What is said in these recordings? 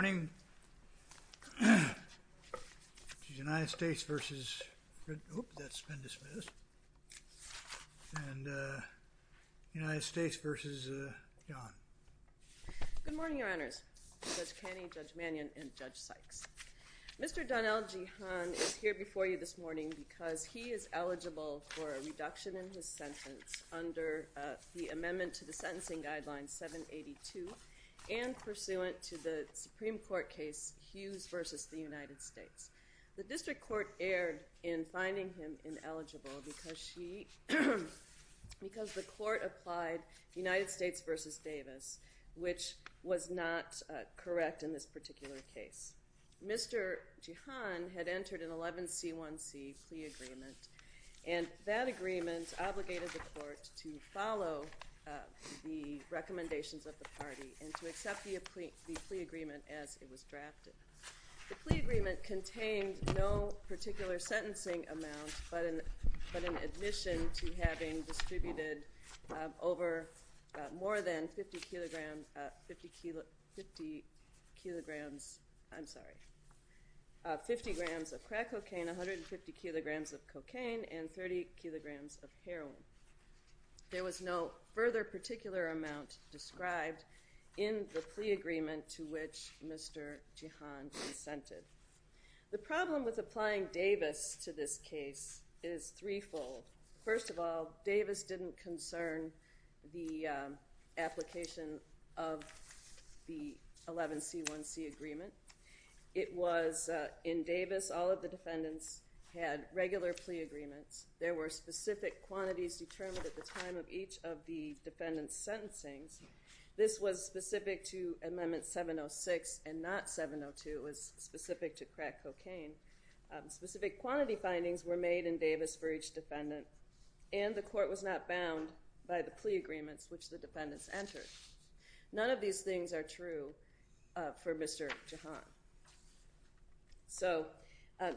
Good morning, Your Honors. Judge Caney, Judge Mannion, and Judge Sykes. Mr. Donnell Jehan is here before you this morning because he is eligible for a reduction in his sentence under the Amendment to the Sentencing Guidelines 782 and pursuant to the Supreme Court case Hughes v. The United States. The district court erred in finding him ineligible because the court applied United States v. Davis, which was not correct in this particular case. Mr. Jehan had entered an 11C1C plea agreement, and that agreement has obligated the court to follow the recommendations of the party and to accept the plea agreement as it was drafted. The plea agreement contained no particular sentencing amount but an admission to having distributed over more than 50 kilograms of crack cocaine, 150 kilograms of cocaine, and 30 kilograms of heroin. There was no further particular amount described in the plea agreement to which Mr. Jehan consented. The problem with applying Davis to this case is threefold. First of all, Davis didn't concern the application of the 11C1C agreement. It was in Davis, all of the defendants had regular plea agreements. There were specific quantities determined at the time of each of the defendants' sentencings. This was specific to Amendment 706 and not 702. It was specific to crack cocaine. Specific quantity findings were made in Davis for each defendant, and the court was not bound by the plea agreements which the defendants entered. None of these things are true for Mr. Jehan. So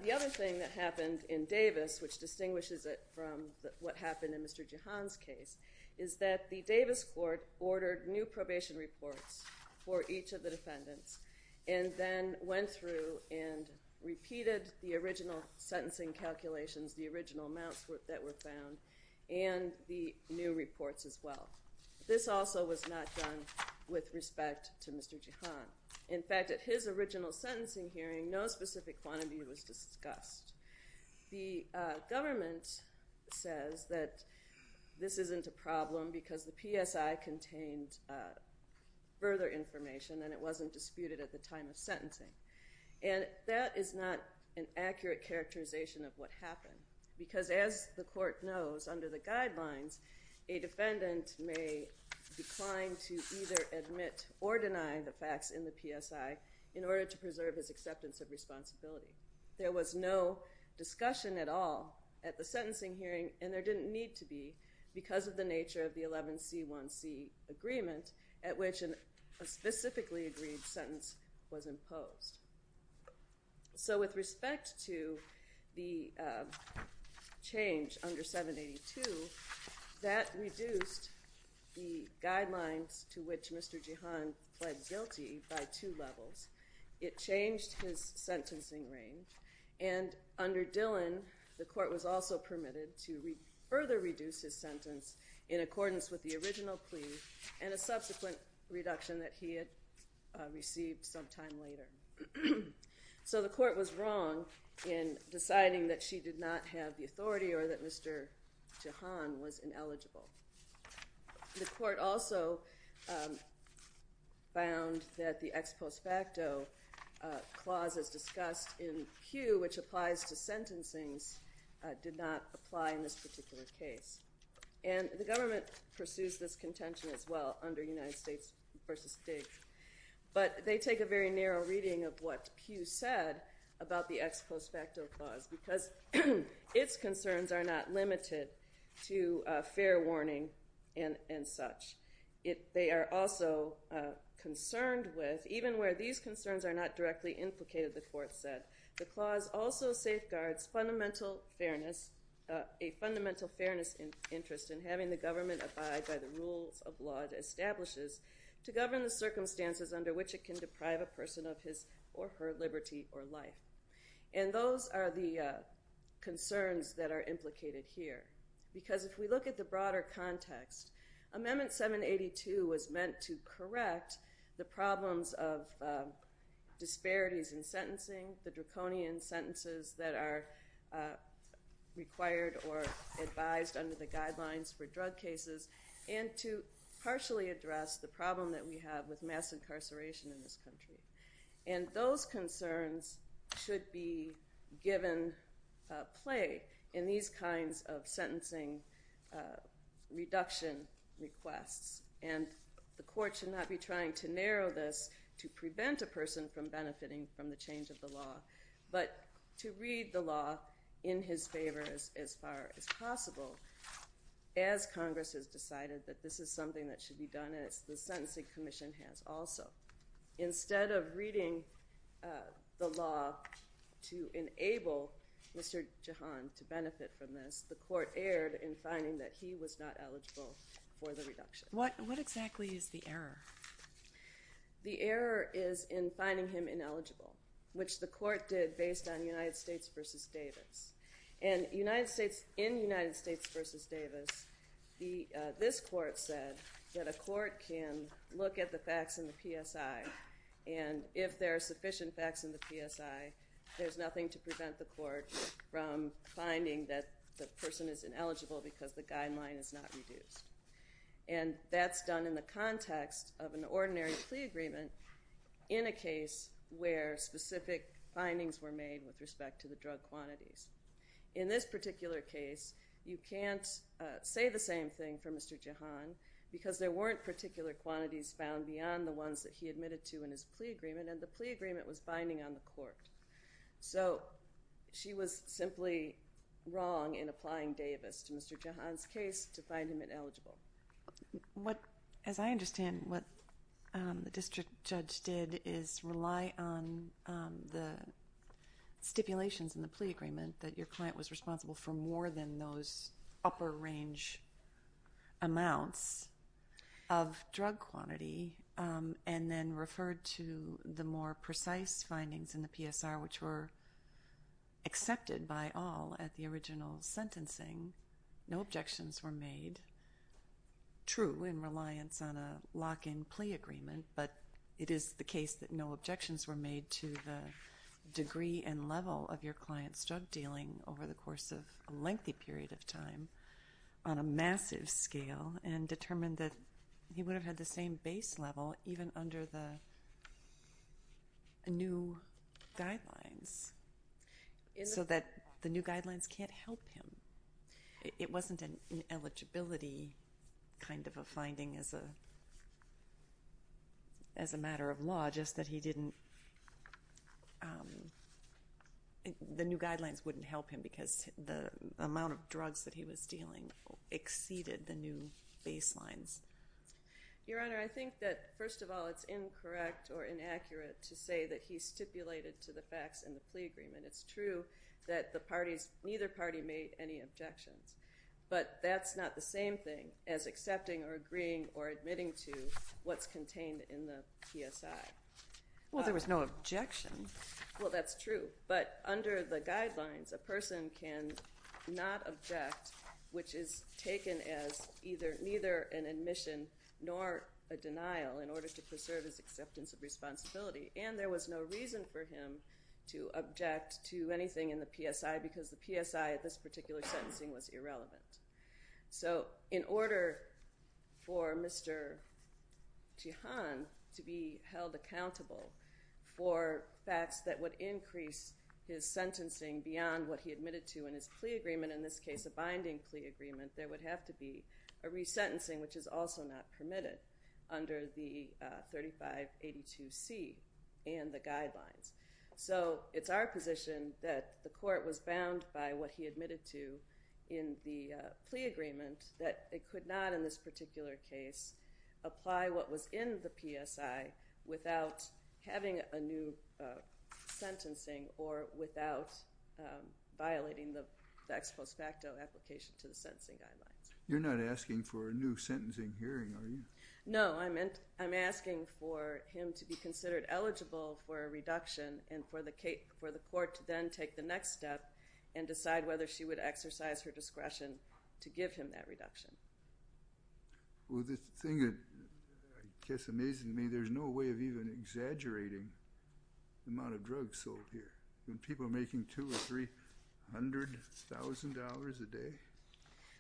the other thing that happened in Davis, which distinguishes it from what happened in Mr. Jehan's case, is that the Davis court ordered new probation reports for each of the defendants and then went through and repeated the original sentencing calculations, the original amounts that were found, and the new reports as well. This also was not done with respect to Mr. Jehan. In fact, at his original sentencing hearing, no specific quantity was discussed. The government says that this isn't a problem because the PSI contained further information and it wasn't disputed at the time of sentencing. And that is not an accurate characterization of what happened, because as the court knows, under the guidelines, a defendant may decline to either admit or deny the facts in the PSI in order to preserve his acceptance of responsibility. There was no discussion at all at the sentencing hearing, and there didn't need to be, because of the nature of the 11C1C agreement at which a specifically agreed sentence was imposed. So with respect to the change under 782, that reduced the guidelines to which Mr. Jehan pled guilty by two levels. It changed his sentencing range, and under Dillon, the court was also permitted to further reduce his sentence in accordance with the original plea and a subsequent reduction that he had received some time later. So the court was wrong in deciding that she did not have the authority or that Mr. Jehan was ineligible. The court also found that the ex post facto clauses discussed in Pew, which applies to sentencings, did not apply in this particular case. And the government pursues this contention as well under United States v. Diggs, but they take a very narrow reading of what Pew said about the ex post facto clause, because its concerns are not limited to fair warning and such. They are also concerned with, even where these concerns are not directly implicated, the court said, the clause also safeguards fundamental fairness, a fundamental fairness interest in having the government abide by the rules of law it establishes to govern the circumstances under which it can deprive a person of his or her liberty or life. And those are the concerns that are implicated here, because if we look at the broader context, Amendment 782 was meant to correct the problems of disparities in sentencing, the draconian sentences that are required or advised under the guidelines for drug cases, and to partially address the problem that we have with mass incarceration in this country. And those concerns should be given play in these kinds of sentencing reduction requests. And the court should not be to read the law in his favor as far as possible, as Congress has decided that this is something that should be done, and the Sentencing Commission has also. Instead of reading the law to enable Mr. Jahan to benefit from this, the court erred in finding that he was not eligible for the reduction. What exactly is the error? The error is in finding him ineligible, which the court did based on United States v. Davis. And in United States v. Davis, this court said that a court can look at the facts in the PSI, and if there are sufficient facts in the PSI, there's nothing to prevent the court from finding that the person is ineligible because the guideline is not reduced. And that's done in the context of an ordinary plea agreement in a case where specific findings were made with respect to the drug quantities. In this particular case, you can't say the same thing for Mr. Jahan because there weren't particular quantities found beyond the ones that he admitted to in his plea agreement, and the plea agreement was binding on the court. So she was simply wrong in applying Davis to Mr. Jahan's case to find him ineligible. What, as I understand, what the district judge did is rely on the stipulations in the plea agreement that your client was responsible for more than those upper range amounts of drug quantity, and then referred to the more precise findings in the PSR, which were accepted by all at the original sentencing. No objections were made, true in reliance on a lock-in plea agreement, but it is the case that no objections were made to the degree and level of your client's drug dealing over the course of a lengthy period of time on a massive scale, and determined that he would have had the same base level even under the new guidelines, so that the new guidelines can't help him. It wasn't an eligibility kind of a finding as a matter of law, just that he didn't, the new guidelines wouldn't help him because the amount of drugs that he was dealing exceeded the new baselines. Your Honor, I think that first of all it's incorrect or inaccurate to say that he stipulated to the facts in the plea agreement. It's true that the parties, neither party made any objections, but that's not the same thing as accepting or agreeing or admitting to what's contained in the PSI. Well there was no objection. Well that's true, but under the guidelines a person can not object, which is taken as either neither an admission nor a denial in order to preserve his acceptance of responsibility, and there was no reason for him to object to anything in the PSI because the PSI at this particular sentencing was irrelevant. So in order for Mr. Chahan to be held accountable for facts that would increase his sentencing beyond what he admitted to in his plea agreement, in this case a binding plea agreement, there would have to be a resentencing, which is also not permitted under the 3582C and the guidelines. So it's our position that the court was bound by what he admitted to in the plea agreement that it could not in this particular case apply what was in the PSI without having a new sentencing or without violating the ex post facto application to the sentencing guidelines. You're not asking for a new sentencing hearing, are you? No, I'm asking for him to be considered eligible for a reduction and for the court to then take the next step and decide whether she would exercise her discretion to give him that reduction. Well the thing that I guess amazes me, there's no way of even exaggerating the amount of drugs sold here. I mean people are making $200,000 or $300,000 a day.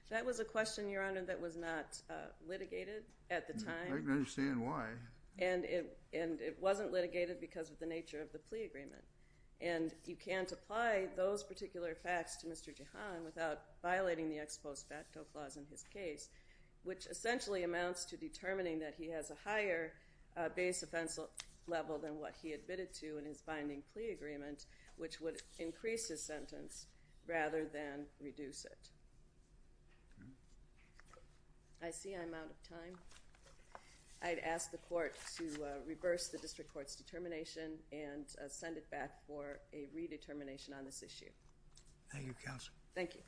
That was a question, Your Honor, that was not litigated at the time. I can understand why. And it wasn't litigated because of the nature of the plea agreement. And you can't apply those particular facts to Mr. Chahan without violating the ex post facto clause in his case, which essentially amounts to determining that he has a higher base offense level than what he admitted to in his binding plea agreement, which would increase his sentence rather than reduce it. I see I'm out of time. I'd ask the court to reverse the district court's determination and send it back for a redetermination on this issue. Thank you, counsel. Thank you.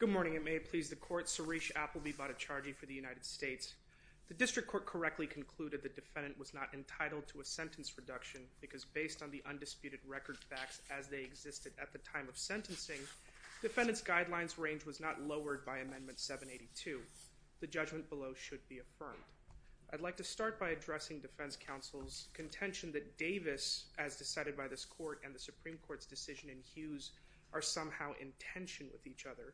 Good morning. It may please the court. Suresh Appleby Botticharjee for the United States. The district court correctly concluded the defendant was not entitled to a sentence reduction because based on the undisputed record facts as they existed at the time of sentencing, defendant's guidelines range was not lowered by Amendment 782. The judgment below should be affirmed. I'd like to start by addressing defense counsel's contention that Davis, as decided by this court and the Supreme Court's decision in Hughes, are somehow in tension with each other.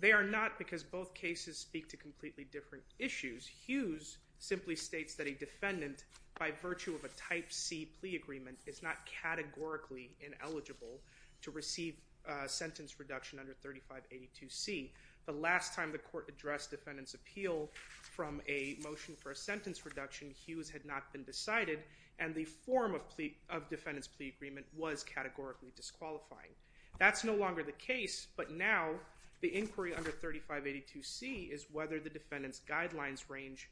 They are not because both cases speak to completely different issues. Hughes simply states that a defendant by virtue of a Type C plea agreement is not categorically ineligible to receive a sentence reduction under 3582C. The last time the court addressed defendant's appeal from a motion for a sentence reduction, Hughes had not been decided, and the form of defendant's plea agreement was categorically disqualifying. That's no longer the case, but now the inquiry under 3582C is whether the defendant's guidelines range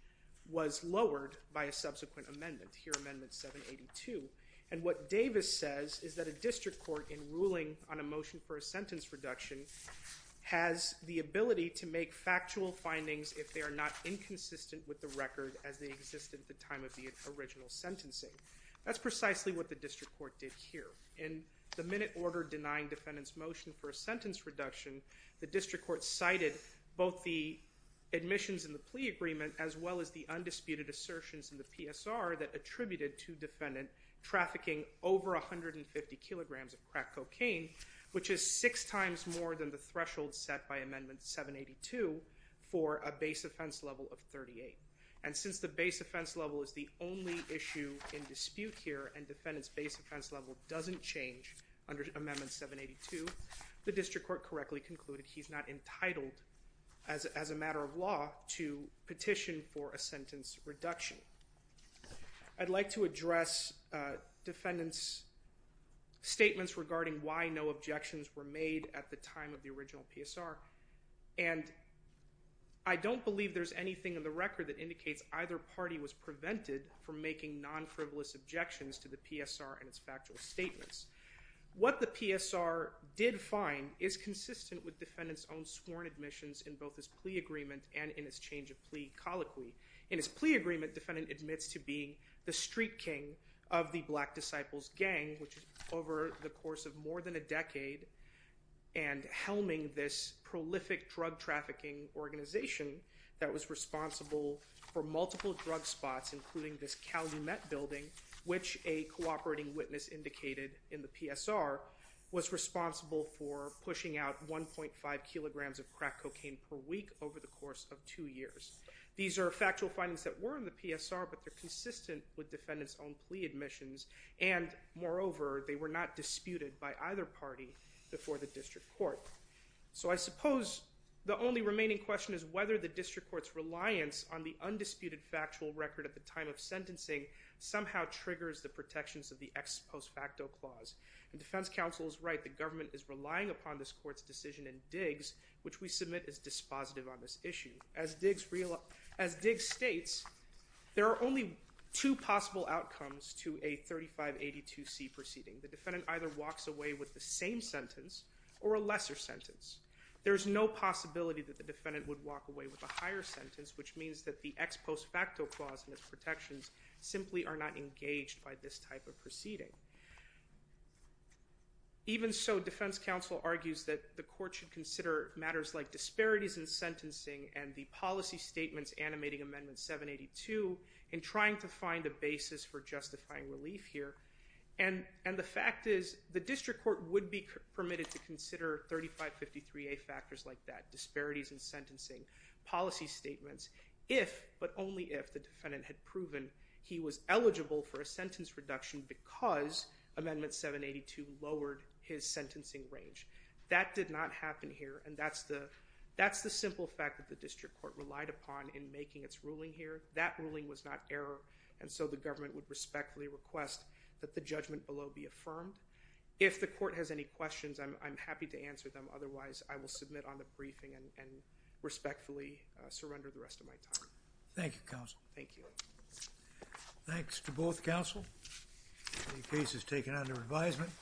was lowered by a subsequent amendment, here Amendment 782. And what Davis says is that a district court in ruling on a motion for a sentence reduction has the ability to make factual findings if they are not inconsistent with the record as they exist at the time of the original sentencing. That's precisely what the district court did here. In the minute order denying defendant's motion for a sentence reduction, the district court cited both the admissions and the plea agreement as well as the undisputed assertions in the PSR that attributed to defendant trafficking over 150 kilograms of crack cocaine, which is six times more than the threshold set by Amendment 782 for a base offense level of 38. And since the base offense level is the only issue in dispute here, and defendant's base offense level doesn't change under Amendment 782, the district court correctly concluded he's not entitled, as a matter of law, to petition for a sentence reduction. I'd like to address defendant's statements regarding why no objections were made at the time of the original PSR, and I don't believe there's anything in the record that indicates either party was prevented from making non-frivolous objections to the PSR. What the PSR did find is consistent with defendant's own sworn admissions in both his plea agreement and in his change of plea colloquy. In his plea agreement, defendant admits to being the street king of the Black Disciples Gang, which over the course of more than a decade, and helming this prolific drug trafficking organization that was responsible for multiple drug spots, including this Calumet building, which a cooperating witness indicated in the PSR, was responsible for pushing out 1.5 kilograms of crack cocaine per week over the course of two years. These are factual findings that were in the PSR, but they're consistent with defendant's own plea admissions, and moreover, they were not disputed by either party before the district court. So I suppose the only remaining question is whether the district court's reliance on the undisputed factual record at the time of sentencing somehow triggers the protections of the ex post facto clause. And defense counsel is right, the government is relying upon this court's decision in Diggs, which we submit is dispositive on this issue. As Diggs states, there are only two possible outcomes to a 3582C proceeding. The defendant either walks away with the same sentence or a lesser sentence. There's no possibility that the defendant would walk away with a higher sentence, which means that the ex post facto clause and its protections simply are not engaged by this type of action. Even so, defense counsel argues that the court should consider matters like disparities in sentencing and the policy statements animating amendment 782 in trying to find a basis for justifying relief here. And the fact is, the district court would be permitted to consider 3553A factors like that, disparities in sentencing, policy statements, if, but only if, the defendant had amendment 782 lowered his sentencing range. That did not happen here, and that's the, that's the simple fact that the district court relied upon in making its ruling here. That ruling was not error, and so the government would respectfully request that the judgment below be affirmed. If the court has any questions, I'm happy to answer them. Otherwise, I will submit on the briefing and respectfully surrender the rest of my time. Thank you, counsel. Thank you. Thanks to both counsel. The case is taken under advisement.